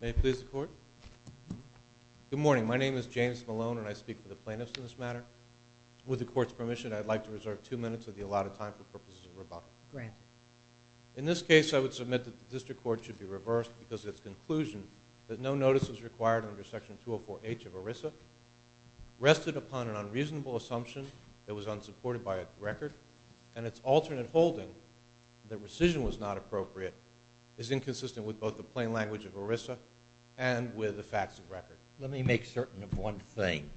May it please the Court? Good morning. My name is James Malone and I speak for the plaintiffs in this matter. With the Court's permission, I'd like to reserve two minutes of the allotted time for purposes of rebuttal. In this case, I would submit that the District Court should be reversed because of its conclusion that no notice was required under Section 204H of ERISA rested upon an unreasonable assumption that was unsupported by record, and its alternate holding that rescission was not appropriate is inconsistent with both the plain language of ERISA and with the facts of record. Let me make certain of one thing.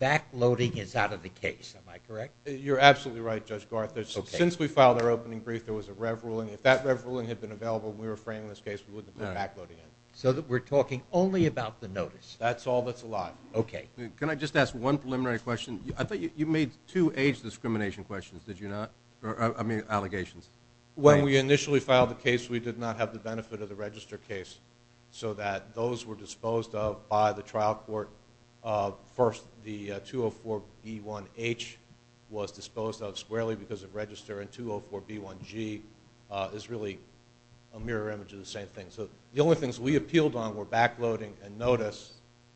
Backloading is out of the case, am I correct? You're absolutely right, Judge Garth. Since we filed our opening brief, there was a rev ruling. If that rev ruling had been available when we were framing this case, we wouldn't have put backloading in. So we're talking only about the notice? That's all that's allowed? Okay. Can I just ask one preliminary question? I thought you made two age discrimination questions, did you not? I mean, allegations. When we initially filed the case, we did not have the benefit of the register case so that those were disposed of by the trial court. First, the 204B1H was disposed of squarely because of register and 204B1G is really a mirror image of the same thing. So the only things we appealed on were backloading and notice.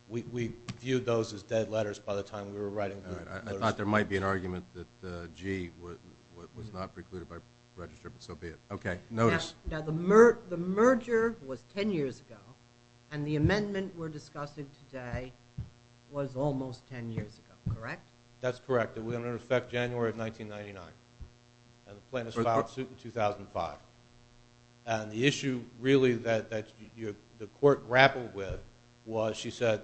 We viewed those as dead letters by the time we were writing the notice. I thought there might be an argument that G was not precluded by register, but so be it. Okay, notice. Now the merger was 10 years ago and the amendment we're discussing today was almost 10 years ago, correct? That's correct, and we're going to respect January 1999. And the plaintiff filed a suit in 2005. And the issue really that the court grappled with was she said,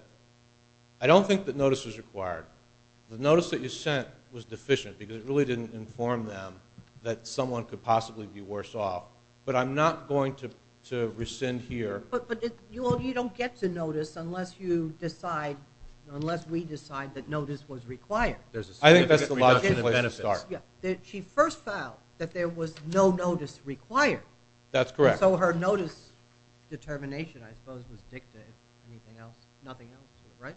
I don't think that notice was required. The notice that you sent was deficient because it really didn't inform them that someone could possibly be worse off. But I'm not going to rescind here. But you don't get to notice unless you decide, that notice was required. I think that's the logical place to start. She first filed that there was no notice required. That's correct. So her notice determination, I suppose, was dictated. Nothing else, right?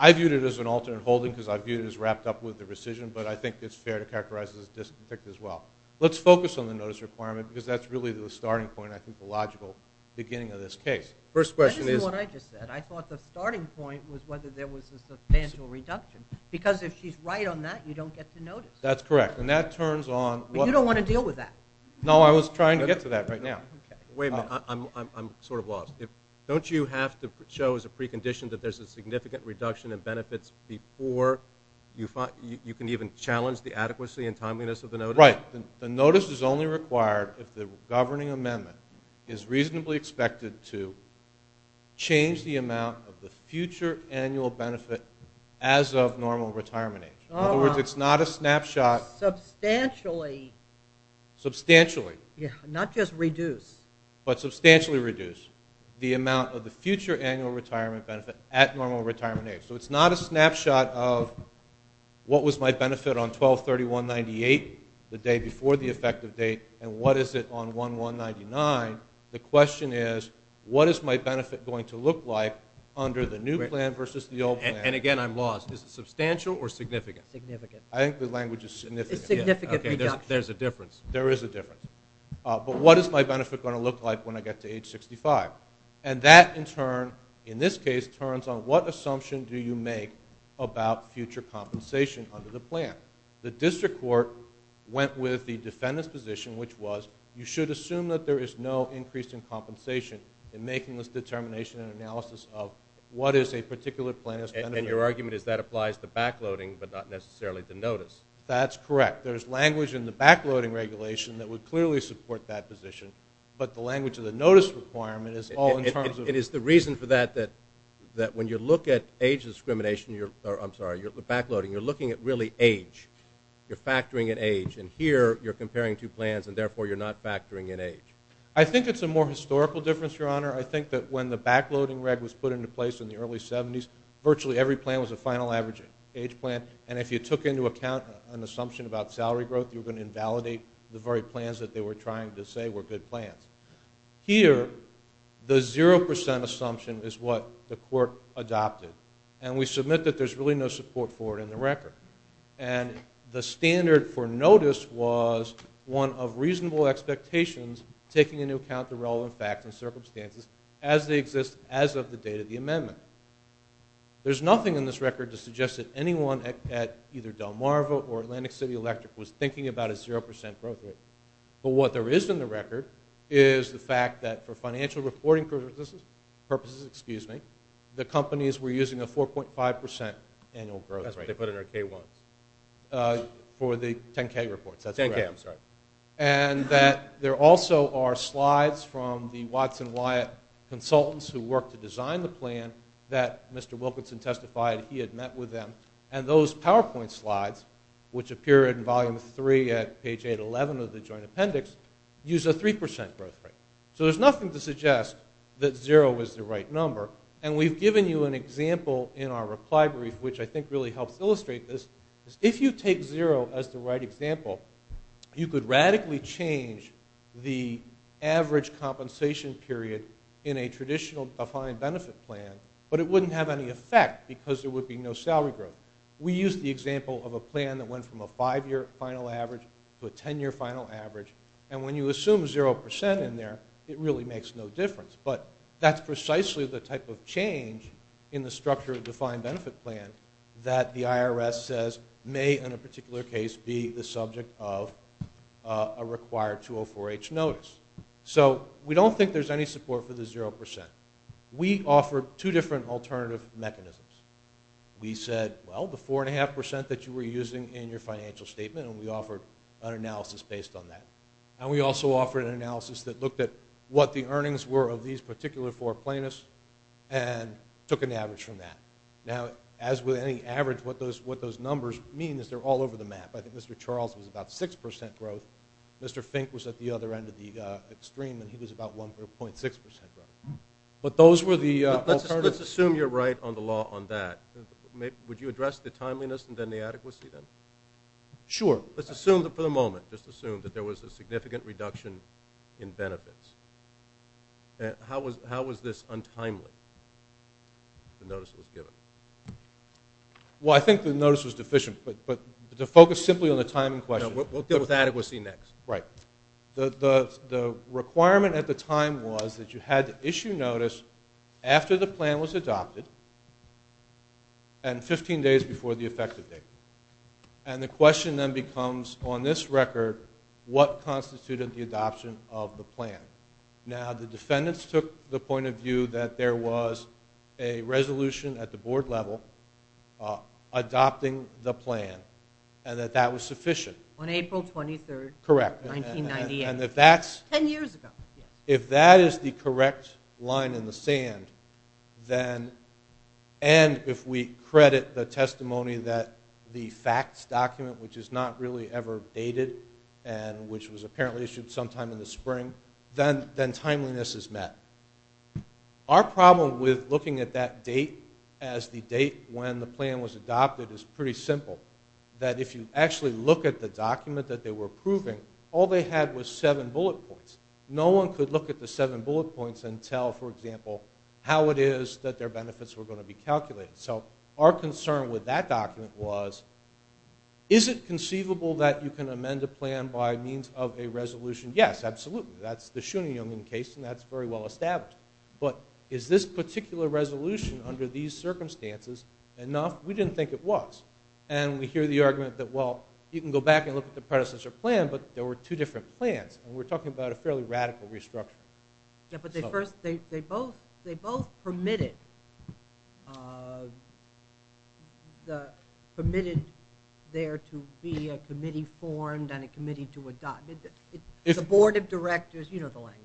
I viewed it as an alternate holding because I viewed it as wrapped up with the rescission, but I think it's fair to characterize it as a disconflict as well. Let's focus on the notice requirement because that's really the starting point, I think the logical beginning of this case. First question is- Because if she's right on that, you don't get the notice. That's correct. And that turns on- But you don't want to deal with that. No, I was trying to get to that right now. Wait a minute. I'm sort of lost. Don't you have to show as a precondition that there's a significant reduction in benefits before you can even challenge the adequacy and timeliness of the notice? Right. The notice is only required if the governing amendment is reasonably expected to change the amount of the future annual benefit as of normal retirement age. In other words, it's not a snapshot- Substantially. Substantially. Yeah, not just reduce. But substantially reduce the amount of the future annual retirement benefit at normal retirement age. So it's not a snapshot of what was my benefit on 12-31-98, the day before the effective date, and what is it on 1-1-99. The question is, what is my benefit going to look like under the new plan versus the old plan? And again, I'm lost. Is it substantial or significant? Significant. I think the language is significant. It's significant reduction. Okay, there's a difference. There is a difference. But what is my benefit going to look like when I get to age 65? And that, in turn, in this case, turns on what assumption do you make about future compensation under the plan? The district court went with the defendant's position, which was you should assume that there is no increase in compensation in making this determination and analysis of what is a particular plan- And your argument is that applies to backloading, but not necessarily to notice. That's correct. There's language in the backloading regulation that would clearly support that position. But the language of the notice requirement is all in terms of- It is the reason for that, that when you look at age discrimination, or I'm sorry, you're not backloading. You're looking at really age. You're factoring in age. And here, you're comparing two plans, and therefore, you're not factoring in age. I think it's a more historical difference, Your Honor. I think that when the backloading reg was put into place in the early 70s, virtually every plan was a final average age plan. And if you took into account an assumption about salary growth, you were going to invalidate the very plans that they were trying to say were good plans. Here, the 0% assumption is what the court adopted. And we submit that there's really no support for it in the record. And the standard for notice was one of reasonable expectations taking into account the relevant facts and circumstances as they exist as of the date of the amendment. There's nothing in this record to suggest that anyone at either Delmarva or Atlantic City Electric was thinking about a 0% growth rate. But what there is in the record is the fact that for financial reporting purposes, the companies were using a 4.5% annual growth rate. That's what they put in their K-1s. For the 10K reports, that's correct. 10K, I'm sorry. And that there also are slides from the Watson Wyatt consultants who worked to design the plan that Mr. Wilkinson testified he had met with them. And those PowerPoint slides, which appear in volume three at page 811 of the joint appendix, use a 3% growth rate. So there's nothing to suggest that 0 is the right number. And we've given you an example in our reply brief, which I think really helps illustrate this. If you take 0 as the right example, you could radically change the average compensation period in a traditional defined benefit plan, but it wouldn't have any effect because there would be no salary growth. We used the example of a plan that went from a five-year final average to a 10-year final average. And when you assume 0% in there, it really makes no difference. But that's precisely the type of change in the structure of the defined benefit plan that the IRS says may, in a particular case, be the subject of a required 204-H notice. So we don't think there's any support for the 0%. We offered two different alternative mechanisms. We said, well, the 4.5% that you were using in your financial statement, and we offered an analysis based on that. And we also offered an analysis that looked at what the earnings were of these particular four plaintiffs and took an average from that. Now, as with any average, what those numbers mean is they're all over the map. I think Mr. Charles was about 6% growth. Mr. Fink was at the other end of the extreme, and he was about 1.6% growth. But those were the alternatives. Well, let's assume you're right on the law on that. Would you address the timeliness and then the adequacy then? Sure. Let's assume for the moment, just assume that there was a significant reduction in benefits. How was this untimely, the notice that was given? Well, I think the notice was deficient. But to focus simply on the time in question. No, we'll deal with adequacy next. Right. The requirement at the time was that you had to issue notice after the plan was adopted and 15 days before the effective date. And the question then becomes, on this record, what constituted the adoption of the plan? Now, the defendants took the point of view that there was a resolution at the board level adopting the plan and that that was sufficient. On April 23rd. Correct. 1998. And if that's... Ten years ago. If that is the correct line in the sand, and if we credit the testimony that the facts document, which is not really ever dated, and which was apparently issued sometime in the spring, then timeliness is met. Our problem with looking at that date as the date when the plan was adopted is pretty simple. That if you actually look at the document that they were approving, all they had was seven bullet points. No one could look at the seven bullet points and tell, for example, how it is that their benefits were going to be calculated. So our concern with that document was, is it conceivable that you can amend a plan by means of a resolution? Yes, absolutely. That's the Schoening-Jungen case and that's very well established. But is this particular resolution under these circumstances enough? We didn't think it was. And we hear the argument that, well, you can go back and look at the predecessor plan, but there were two different plans. And we're talking about a fairly radical restructure. Yeah, but they both permitted there to be a committee formed and a committee to adopt. The board of directors, you know the language.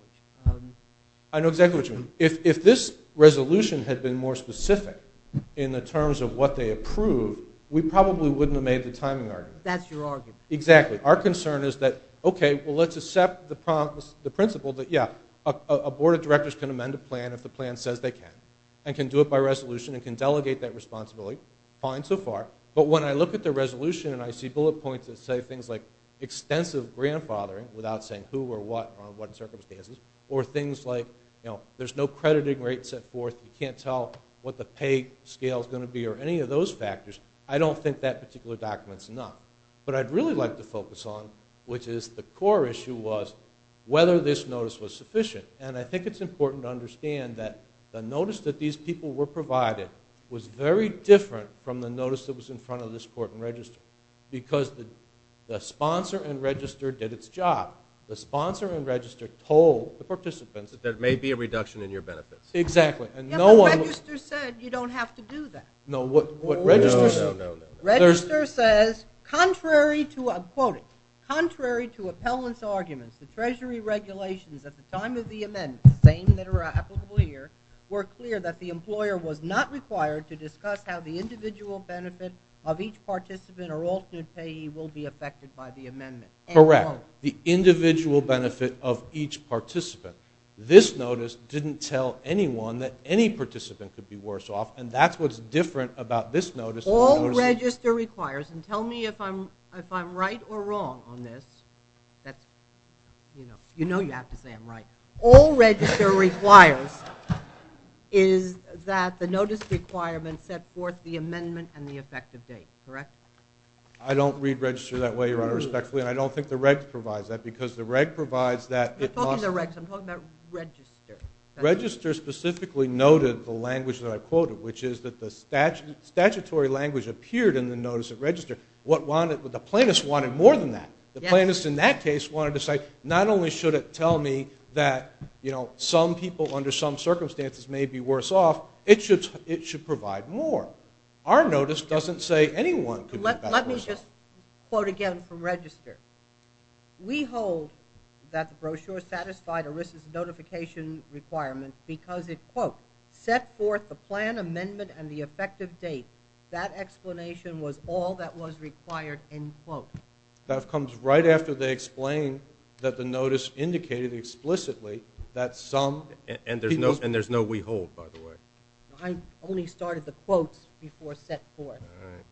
I know exactly what you mean. If this resolution had been more specific in the terms of what they approved, we probably wouldn't have made the timing argument. But that's your argument. Exactly. Our concern is that, okay, well, let's accept the principle that, yeah, a board of directors can amend a plan if the plan says they can. And can do it by resolution and can delegate that responsibility. Fine so far. But when I look at the resolution and I see bullet points that say things like extensive grandfathering, without saying who or what or under what circumstances, or things like there's no crediting rate set forth, you can't tell what the pay scale is going to be or any of those factors, I don't think that particular document's enough. But I'd really like to focus on, which is the core issue was, whether this notice was sufficient. And I think it's important to understand that the notice that these people were provided was very different from the notice that was in front of this court and register. Because the sponsor and register did its job. The sponsor and register told the participants. That there may be a reduction in your benefits. Exactly. Yeah, but the register said you don't have to do that. No, what register said. No, no, no. Register says, contrary to, I'm quoting, contrary to appellant's arguments, the treasury regulations at the time of the amendment, same that are applicable here, were clear that the employer was not required to discuss how the individual benefit of each participant or alternate payee will be affected by the amendment. Correct. The individual benefit of each participant. This notice didn't tell anyone that any different about this notice. All register requires, and tell me if I'm right or wrong on this. You know you have to say I'm right. All register requires is that the notice requirement set forth the amendment and the effective date. Correct? I don't read register that way, Your Honor, respectfully. And I don't think the reg provides that. Because the reg provides that. I'm talking about register. Register specifically noted the language that I quoted, which is that the statutory language appeared in the notice of register. The plaintiffs wanted more than that. The plaintiffs in that case wanted to say not only should it tell me that some people under some circumstances may be worse off, it should provide more. Our notice doesn't say anyone could be better off. Let me just quote again from register. We hold that the brochure satisfied ERISA's notification requirements because it, quote, set forth the plan amendment and the effective date. That explanation was all that was required, end quote. That comes right after they explain that the notice indicated explicitly that some people And there's no we hold, by the way. I only started the quotes before set forth. All right.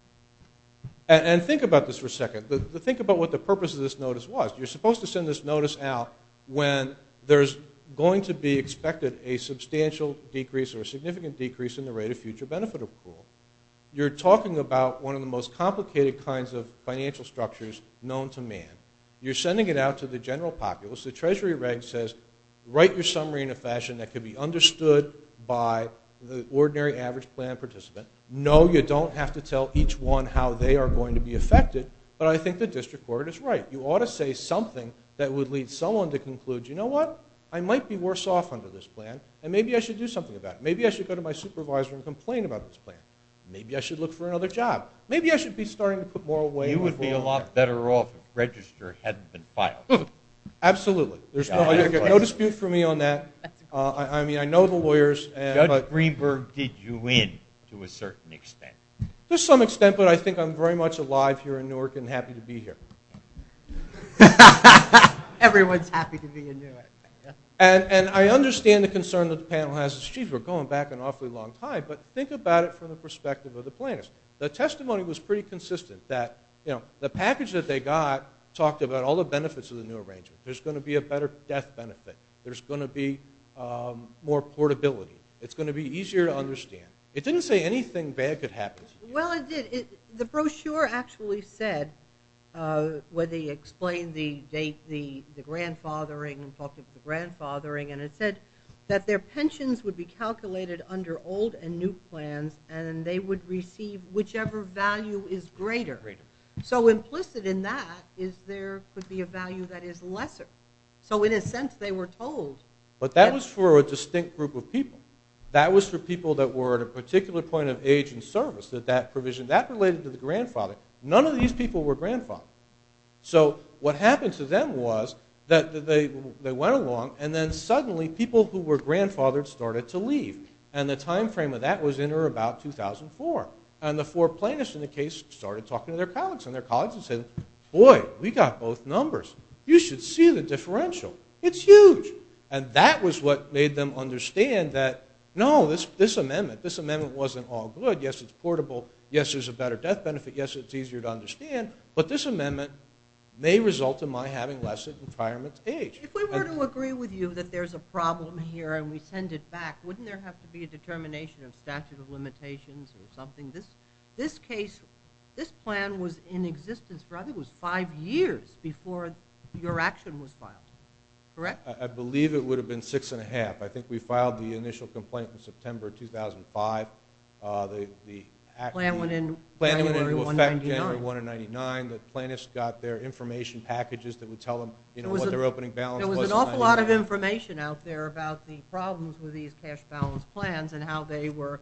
And think about this for a second. Think about what the purpose of this notice was. You're supposed to send this notice out when there's going to be expected a substantial decrease or a significant decrease in the rate of future benefit approval. You're talking about one of the most complicated kinds of financial structures known to man. You're sending it out to the general populace. The treasury reg says write your summary in a fashion that can be understood by the ordinary average plan participant. No, you don't have to tell each one how they are going to be affected, but I think the would lead someone to conclude, you know what? I might be worse off under this plan, and maybe I should do something about it. Maybe I should go to my supervisor and complain about this plan. Maybe I should look for another job. Maybe I should be starting to put more away. You would be a lot better off if the register hadn't been filed. Absolutely. There's no dispute for me on that. I mean, I know the lawyers. Judge Greenberg did you in to a certain extent. To some extent, but I think I'm very much alive here in Newark and happy to be here. Everyone's happy to be in Newark. And I understand the concern that the panel has. We're going back an awfully long time, but think about it from the perspective of the planners. The testimony was pretty consistent. The package that they got talked about all the benefits of the new arrangement. There's going to be a better death benefit. There's going to be more portability. It's going to be easier to understand. It didn't say anything bad could happen. Well, it did. The brochure actually said, where they explained the grandfathering and talked about the grandfathering, and it said that their pensions would be calculated under old and new plans and they would receive whichever value is greater. So implicit in that is there could be a value that is lesser. So in a sense, they were told. But that was for a distinct group of people. That was for people that were at a particular point of age in service, that that provision, that related to the grandfather. None of these people were grandfathers. So what happened to them was that they went along, and then suddenly people who were grandfathers started to leave. And the time frame of that was in or about 2004. And the four plaintiffs in the case started talking to their colleagues, and their colleagues would say, boy, we got both numbers. You should see the differential. It's huge. And that was what made them understand that, no, this amendment wasn't all good. Yes, it's portable. Yes, there's a better death benefit. Yes, it's easier to understand. But this amendment may result in my having less retirement age. If we were to agree with you that there's a problem here and we send it back, wouldn't there have to be a determination of statute of limitations or something? This case, this plan was in existence for I think it was five years before your action was filed, correct? I believe it would have been six and a half. I think we filed the initial complaint in September 2005. The plan went into effect January 1 of 1999. The plaintiffs got their information packages that would tell them what their opening balance was. There was an awful lot of information out there about the problems with these cash balance plans and how they were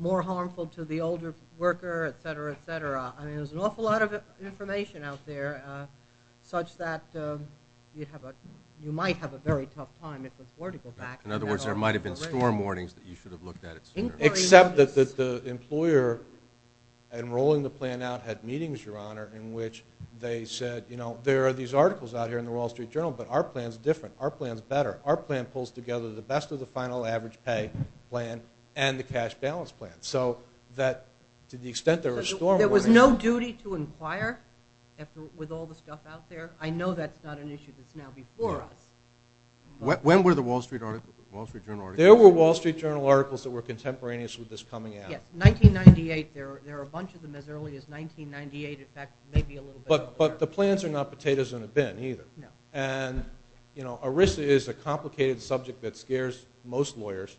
more harmful to the older worker, et cetera, et cetera. I mean, there's an awful lot of information out there such that you might have a very tough time. It's important to go back. In other words, there might have been storm warnings that you should have looked at it sooner. Except that the employer enrolling the plan out had meetings, Your Honor, in which they said, you know, there are these articles out here in the Wall Street Journal, but our plan's different. Our plan's better. Our plan pulls together the best of the final average pay plan and the cash balance plan. To the extent there were storm warnings. There was no duty to inquire with all the stuff out there. I know that's not an issue that's now before us. When were the Wall Street Journal articles? There were Wall Street Journal articles that were contemporaneous with this coming out. Yeah, 1998. There are a bunch of them as early as 1998. In fact, maybe a little bit earlier. But the plans are not potatoes in a bin either. No. Arisa is a complicated subject that scares most lawyers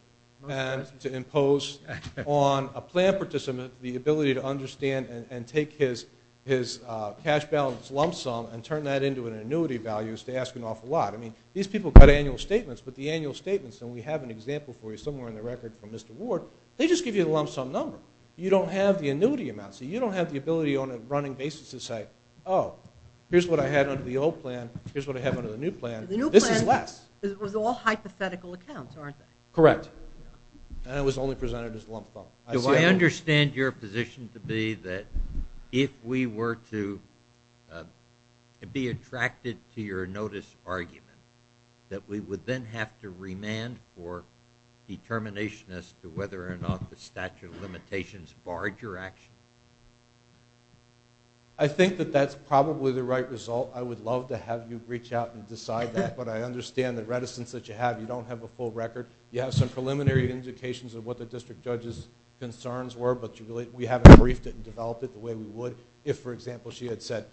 to impose on a plan participant the ability to understand and take his cash balance lump sum and turn that into an annuity value is to ask an awful lot. I mean, these people got annual statements, but the annual statements, and we have an example for you somewhere in the record from Mr. Ward, they just give you the lump sum number. You don't have the annuity amounts. You don't have the ability on a running basis to say, oh, here's what I had under the old plan. Here's what I have under the new plan. The new plan was all hypothetical accounts, aren't they? Correct. And it was only presented as lump sum. Do I understand your position to be that if we were to be attracted to your notice argument that we would then have to remand for determination as to whether or not the statute of limitations barred your action? I think that that's probably the right result. I would love to have you reach out and decide that, but I understand the reticence that you have. You don't have a full record. You have some preliminary indications of what the district judge's concerns were, but we haven't briefed it and developed it the way we would. If, for example, she had said,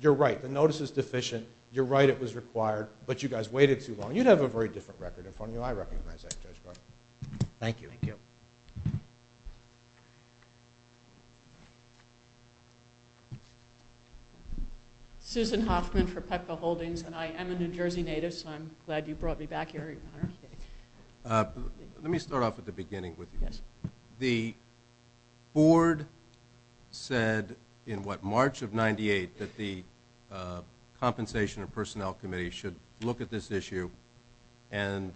you're right, the notice is deficient. You're right, it was required, but you guys waited too long. You'd have a very different record. I recognize that. Thank you. Thank you. Thank you. Susan Hoffman for Pepco Holdings, and I am a New Jersey native, so I'm glad you brought me back here. Let me start off at the beginning with you. The board said in, what, March of 98, that the Compensation and Personnel Committee should look at this issue, and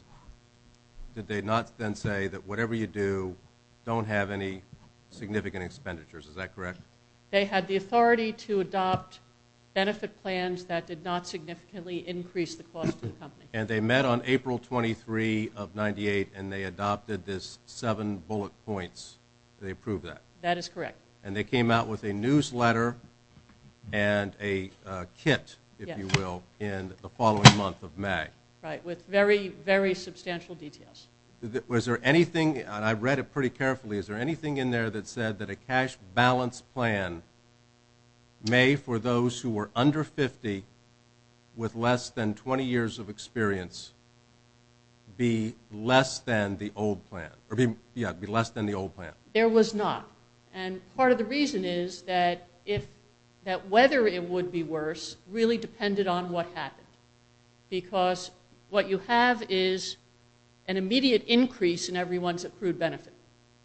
did they not then say that whatever you do, don't have any significant expenditures, is that correct? They had the authority to adopt benefit plans that did not significantly increase the cost to the company. And they met on April 23 of 98, and they adopted this seven bullet points. Did they approve that? That is correct. And they came out with a newsletter and a kit, if you will, in the following month of May. Right, with very, very substantial details. Was there anything, and I read it pretty carefully, is there anything in there that said that a cash balance plan may, for those who were under 50 with less than 20 years of experience, be less than the old plan? Yeah, be less than the old plan. There was not. And part of the reason is that whether it would be worse really depended on what happened, because what you have is an immediate increase in everyone's accrued benefit,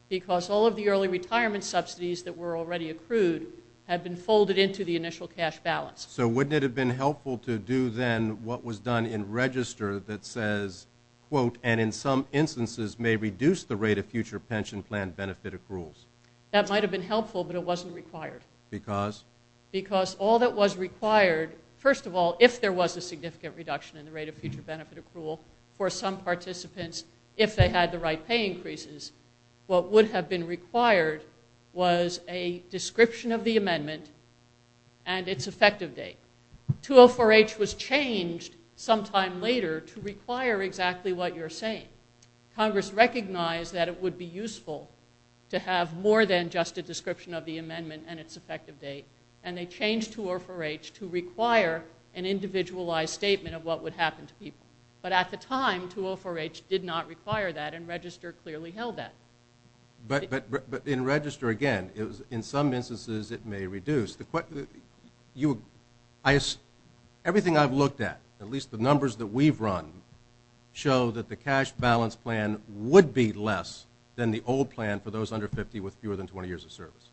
because all of the early retirement subsidies that were already accrued had been folded into the initial cash balance. So wouldn't it have been helpful to do then what was done in register that says, quote, and in some instances may reduce the rate of future pension plan benefit accruals? That might have been helpful, but it wasn't required. Because? Because all that was required, first of all, if there was a significant reduction in the rate of future benefit accrual for some participants, if they had the right pay increases, what would have been required was a description of the amendment and its effective date. 204H was changed sometime later to require exactly what you're saying. Congress recognized that it would be useful to have more than just a description of the amendment and its effective date, and they changed 204H to require an individualized statement of what would happen to people. But at the time, 204H did not require that, and register clearly held that. But in register, again, in some instances it may reduce. Everything I've looked at, at least the numbers that we've run, show that the cash balance plan would be less than the old plan for those under 50 with fewer than 20 years of service.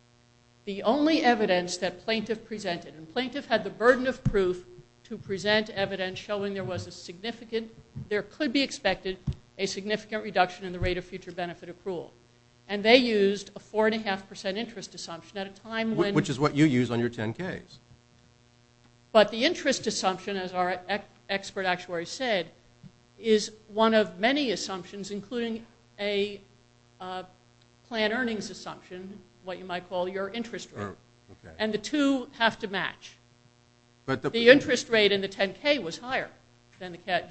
The only evidence that plaintiff presented, and plaintiff had the burden of proof to present evidence showing there was a significant, there could be expected, a significant reduction in the rate of future benefit accrual. And they used a 4.5% interest assumption at a time when. Which is what you use on your 10Ks. But the interest assumption, as our expert actuary said, is one of many assumptions, including a plan earnings assumption, what you might call your interest rate. And the two have to match. The interest rate in the 10K was higher than the 5%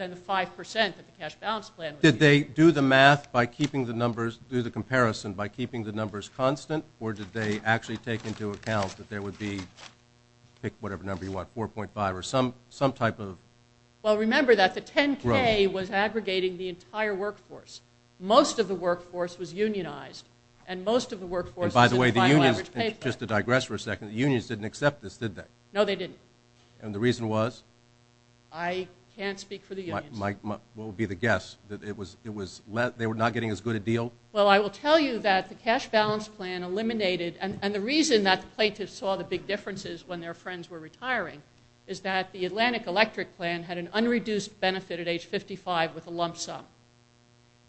that the cash balance plan was. Did they do the math by keeping the numbers, do the comparison by keeping the numbers constant, or did they actually take into account that there would be, pick whatever number you want, 4.5 or some type of. Well, remember that the 10K was aggregating the entire workforce. Most of the workforce was unionized. And most of the workforce. And by the way, the unions, just to digress for a second, the unions didn't accept this, did they? No, they didn't. And the reason was? I can't speak for the unions. What would be the guess? That it was, they were not getting as good a deal? Well, I will tell you that the cash balance plan eliminated, and the reason that the plaintiffs saw the big differences when their friends were retiring, is that the Atlantic Electric plan had an unreduced benefit at age 55 with a lump sum.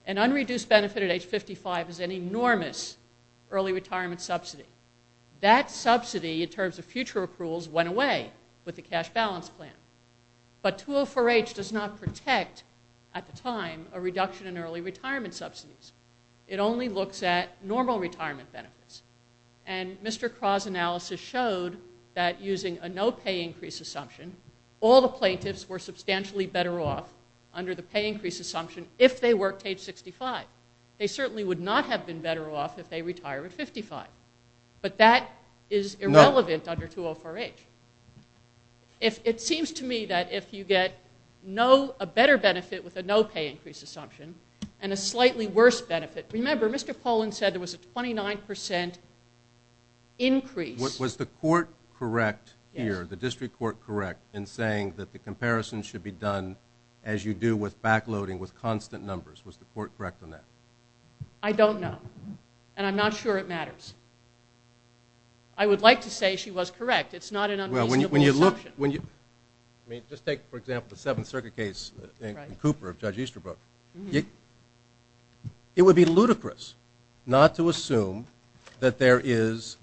An unreduced benefit at age 55 is an enormous early retirement subsidy. That subsidy, in terms of future approvals, went away with the cash balance plan. But 204H does not protect, at the time, a reduction in early retirement subsidies. It only looks at normal retirement benefits. And Mr. Craw's analysis showed that using a no pay increase assumption, all the plaintiffs were substantially better off under the pay increase assumption if they worked age 65. They certainly would not have been better off if they retired at 55. But that is irrelevant under 204H. It seems to me that if you get no, a better benefit with a no pay increase assumption, and a slightly worse benefit. Remember, Mr. Pollin said there was a 29% increase. Was the court correct here, the district court correct, in saying that the comparison should be done, as you do with backloading, with constant numbers? Was the court correct on that? I don't know. And I'm not sure it matters. I would like to say she was correct. It's not an unreasonable assumption. Just take, for example, the Seventh Circuit case, Cooper of Judge Easterbrook. It would be ludicrous not to assume that there is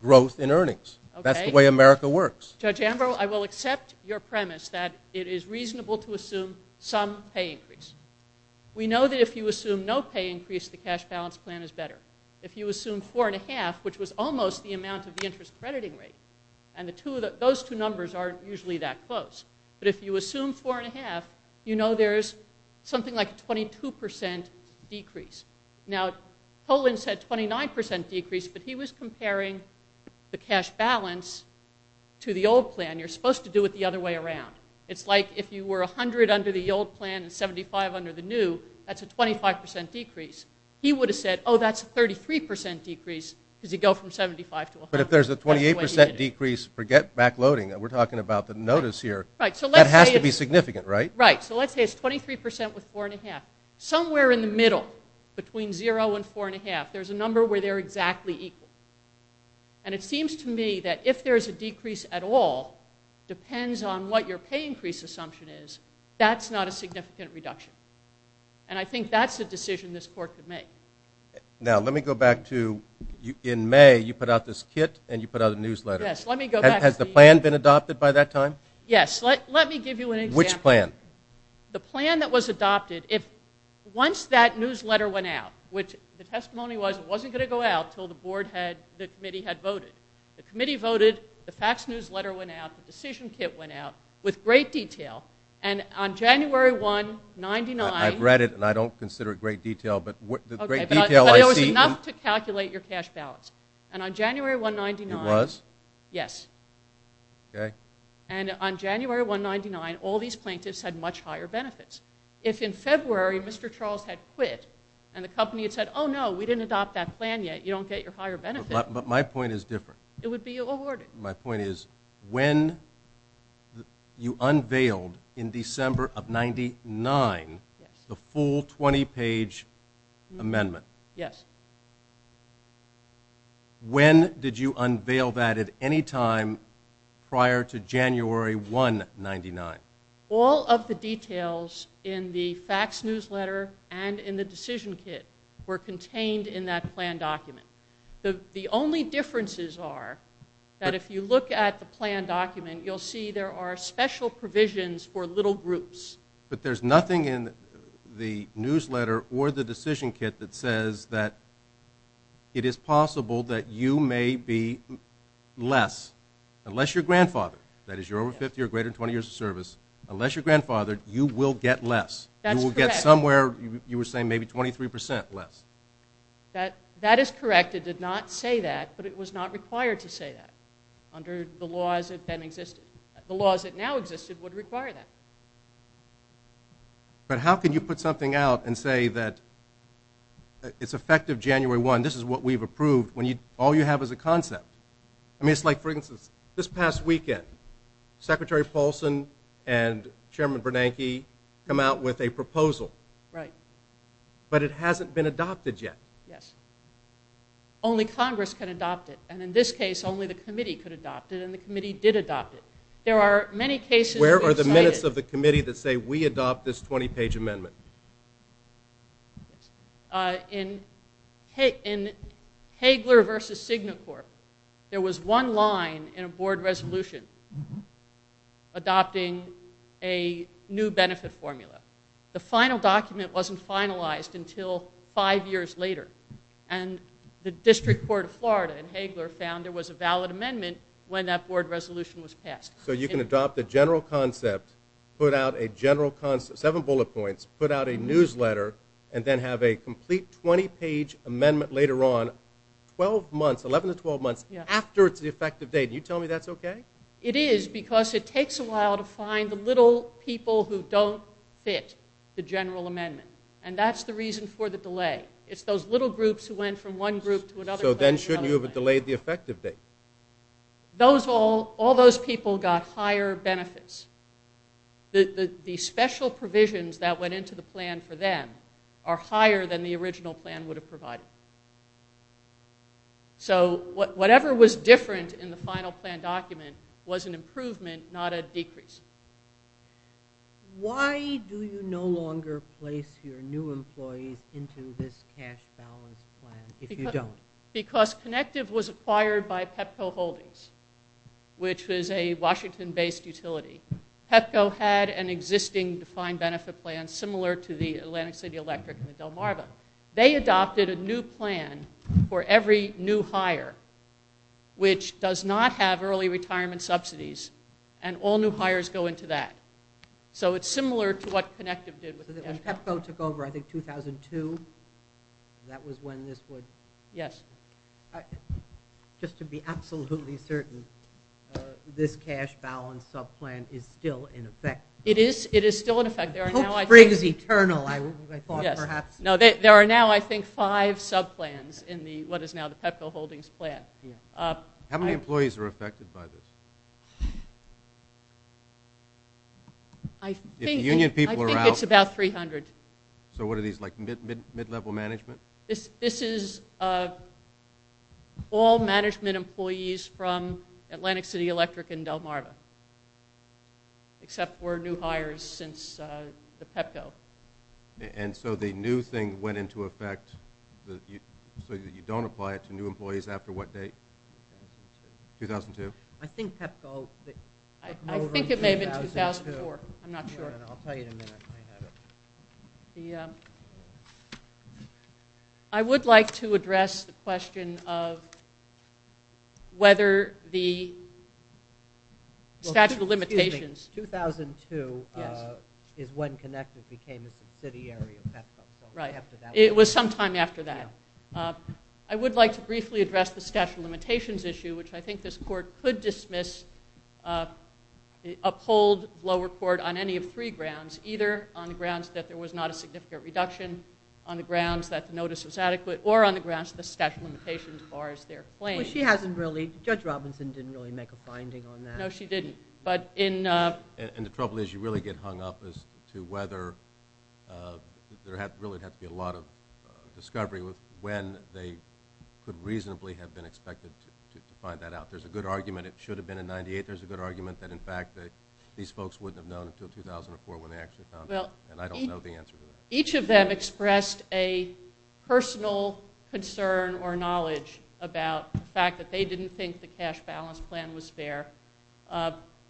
growth in earnings. That's the way America works. Judge Ambrose, I will accept your premise that it is reasonable to assume some pay increase. We know that if you assume no pay increase, the cash balance plan is better. If you assume 4.5, which was almost the amount of the interest crediting rate, and those two numbers aren't usually that close. But if you assume 4.5, you know there's something like a 22% decrease. Now, Toland said 29% decrease, but he was comparing the cash balance to the old plan. You're supposed to do it the other way around. It's like if you were 100 under the old plan and 75 under the new, that's a 25% decrease. He would have said, oh, that's a 33% decrease, because you go from 75 to 100. But if there's a 28% decrease for backloading, and we're talking about the notice here, that has to be significant, right? Right. So let's say it's 23% with 4.5. Somewhere in the middle, between 0 and 4.5, there's a number where they're exactly equal. And it seems to me that if there's a decrease at all, depends on what your pay increase assumption is, that's not a significant reduction. And I think that's a decision this court could make. Now, let me go back to in May, you put out this kit and you put out a newsletter. Yes, let me go back. Has the plan been adopted by that time? Yes, let me give you an example. Which plan? The plan that was adopted. Once that newsletter went out, which the testimony was, it wasn't going to go out until the board had, the committee had voted. The committee voted, the fax newsletter went out, the decision kit went out, with great detail. And on January 1, 99... I've read it, and I don't consider it great detail, but the great detail I see... But it was enough to calculate your cash balance. And on January 1, 99... It was? Yes. Okay. And on January 1, 99, all these plaintiffs had much higher benefits. If in February, Mr. Charles had quit, and the company had said, oh, no, we didn't adopt that plan yet, you don't get your higher benefits. But my point is different. It would be awarded. My point is, when you unveiled, in December of 99, the full 20-page amendment... Yes. When did you unveil that at any time prior to January 1, 99? All of the details in the fax newsletter and in the decision kit were contained in that plan document. The only differences are that if you look at the plan document, you'll see there are special provisions for little groups. But there's nothing in the newsletter or the decision kit that says that it is possible that you may be less, unless your grandfather, that is, you're over 50 or greater than 20 years of service, unless your grandfather, you will get less. That's correct. You will get somewhere, you were saying maybe 23% less. That is correct. It did not say that, but it was not required to say that under the laws that then existed. The laws that now existed would require that. But how can you put something out and say that it's effective January 1, this is what we've approved, when all you have is a concept? I mean, it's like, for instance, this past weekend, Secretary Paulson and Chairman Bernanke come out with a proposal. Right. But it hasn't been adopted yet. Yes. Only Congress can adopt it. And in this case, only the committee could adopt it, and the committee did adopt it. There are many cases. Where are the minutes of the committee that say, we adopt this 20-page amendment? In Hagler v. Signacorp, there was one line in a board resolution adopting a new benefit formula. The final document wasn't finalized until five years later, and the District Court of Florida in Hagler found there was a valid amendment when that board resolution was passed. So you can adopt the general concept, put out a general concept, seven bullet points, put out a newsletter, and then have a complete 20-page amendment later on, 12 months, 11 to 12 months, after it's the effective date. You tell me that's okay? It is, because it takes a while to find the little people who don't fit the general amendment. And that's the reason for the delay. It's those little groups who went from one group to another. So then shouldn't you have delayed the effective date? All those people got higher benefits. The special provisions that went into the plan for them are higher than the original plan would have provided. So whatever was different in the final plan document was an improvement, not a decrease. Why do you no longer place your new employees into this cash balance plan if you don't? Because Connective was acquired by Pepco Holdings, which is a Washington-based utility. Pepco had an existing defined benefit plan similar to the Atlantic City Electric and the Delmarva. They adopted a new plan for every new hire which does not have early retirement subsidies, and all new hires go into that. So it's similar to what Connective did with Pepco. When Pepco took over, I think 2002, that was when this would... Yes. Just to be absolutely certain, this cash balance subplan is still in effect. It is still in effect. Hope springs eternal, I thought perhaps. There are now, I think, five subplans in what is now the Pepco Holdings plan. How many employees are affected by this? If the union people are out... I think it's about 300. So what are these, like mid-level management? This is all management employees from Atlantic City Electric and Delmarva, except for new hires since the Pepco. And so the new thing went into effect so that you don't apply it to new employees after what date? 2002. I think Pepco... I think it may have been 2004. I'm not sure. I'll tell you in a minute. I would like to address the question of whether the statute of limitations... 2002 is when Connective became a subsidiary of Pepco. Right. It was some time after that. I would like to briefly address the statute of limitations issue, which I think this court could dismiss, uphold lower court on any of three grounds, either on the grounds that there was not a significant reduction, on the grounds that the notice was adequate, or on the grounds of the statute of limitations as far as they're claimed. Judge Robinson didn't really make a finding on that. No, she didn't. And the trouble is you really get hung up as to whether there really had to be a lot of discovery when they could reasonably have been expected to find that out. There's a good argument it should have been in 98. There's a good argument that, in fact, these folks wouldn't have known until 2004 when they actually found out. And I don't know the answer to that. Each of them expressed a personal concern or knowledge about the fact that they didn't think the cash balance plan was fair.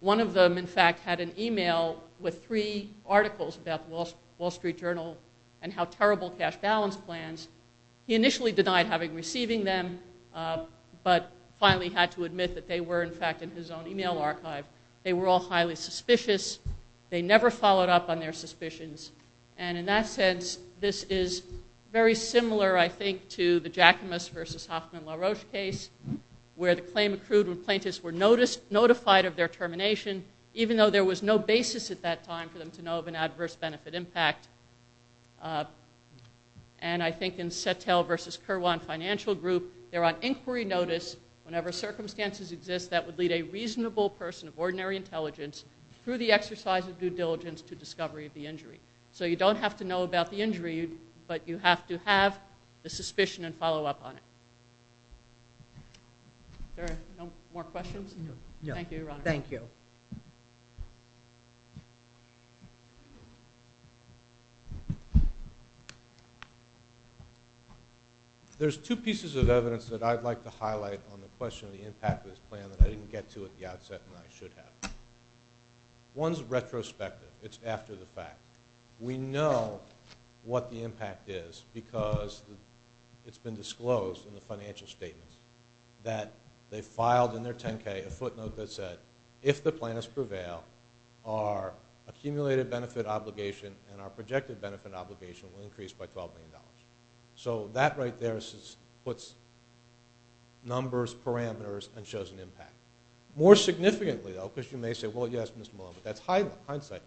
One of them, in fact, had an email with three articles about the Wall Street Journal and how terrible cash balance plans. He initially denied having received them, but finally had to admit that they were, in fact, in his own email archive. They were all highly suspicious. They never followed up on their suspicions. And in that sense, this is very similar, I think, to the Jacquemus versus Hoffman-Laroche case where the claim accrued when plaintiffs were notified of their termination, even though there was no basis at that time for them to know of an adverse benefit impact. And I think in Sattel versus Kirwan Financial Group, they're on inquiry notice whenever circumstances exist that would lead a reasonable person of ordinary intelligence through the exercise of due diligence to discovery of the injury. So you don't have to know about the injury, but you have to have the suspicion and follow up on it. Are there no more questions? Thank you, Your Honor. Thank you. There's two pieces of evidence that I'd like to highlight on the question of the impact of this plan that I didn't get to at the outset and I should have. One's retrospective. It's after the fact. We know what the impact is because it's been disclosed in the financial statements that they filed in their 10-K a footnote that said, if the plaintiffs prevail, our accumulated benefit obligation and our projected benefit obligation will increase by $12 million. So that right there puts numbers, parameters, and shows an impact. More significantly, though, because you may say, well, yes, Mr. Malone, but that's hindsight.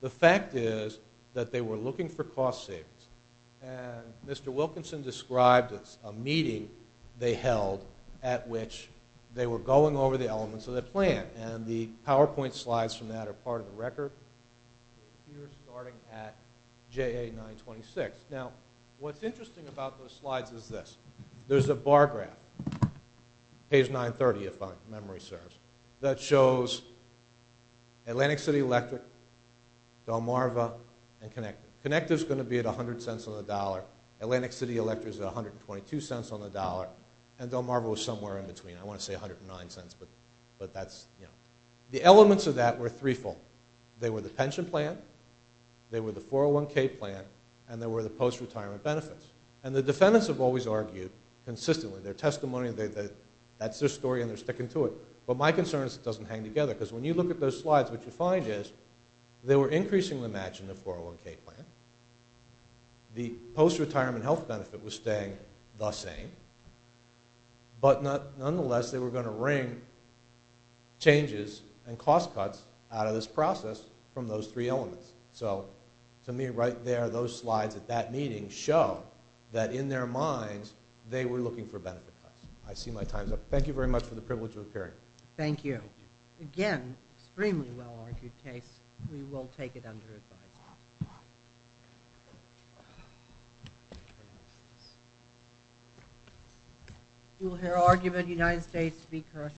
The fact is that they were looking for cost savings. And Mr. Wilkinson described a meeting they held at which they were going over the elements of the plan, and the PowerPoint slides from that are part of the record. We're starting at JA 926. Now, what's interesting about those slides is this. There's a bar graph, page 930, if my memory serves, that shows Atlantic City Electric, Delmarva, and Connective. Connective's going to be at $0.10 on the dollar. Atlantic City Electric's at $0.122 on the dollar. And Delmarva was somewhere in between. I want to say $0.109, but that's, you know. The elements of that were threefold. They were the pension plan, they were the 401k plan, and they were the post-retirement benefits. And the defendants have always argued consistently. Their testimony, that's their story, and they're sticking to it. But my concern is it doesn't hang together. Because when you look at those slides, what you find is they were increasingly matching the 401k plan. The post-retirement health benefit was staying the same. But nonetheless, they were going to wring changes and cost cuts out of this process from those three elements. So to me, right there, those slides at that meeting show that in their minds, they were looking for benefit cuts. I see my time's up. Thank you very much for the privilege of appearing. Thank you. Again, extremely well-argued case. We will take it under advisement. We will hear argument in the United States.